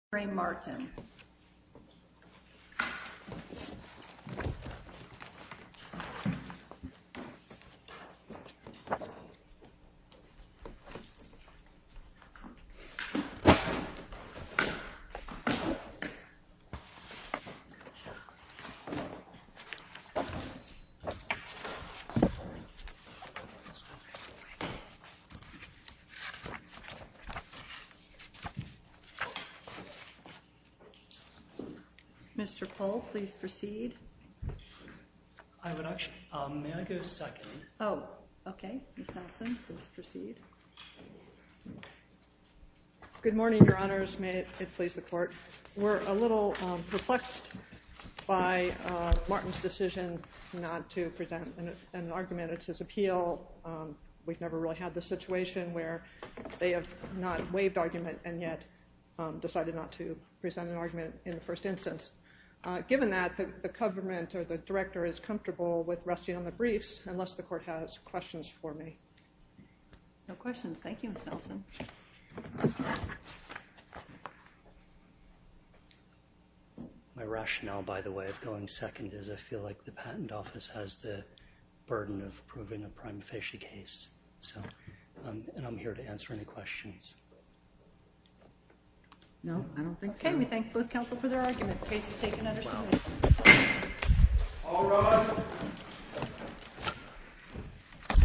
Re Martin. Mr. Pohl, please proceed. I would actually, may I go second? Oh, okay. Ms. Nelson, please proceed. Good morning, your honors. May it please the court. We're a little perplexed by Martin's decision not to present an argument. It's his appeal. We've never really had the situation where they have not waived argument and yet decided not to present an argument in the first instance. Given that, the government or the director is comfortable with resting on the briefs unless the court has questions for me. No questions. Thank you, Ms. Nelson. My rationale, by the way, of going second is I feel like the patent office has the burden of proving a prime facie case. And I'm here to answer any questions. No, I don't think so. Okay, we thank both counsel for their argument. The case is taken under submission. All rise.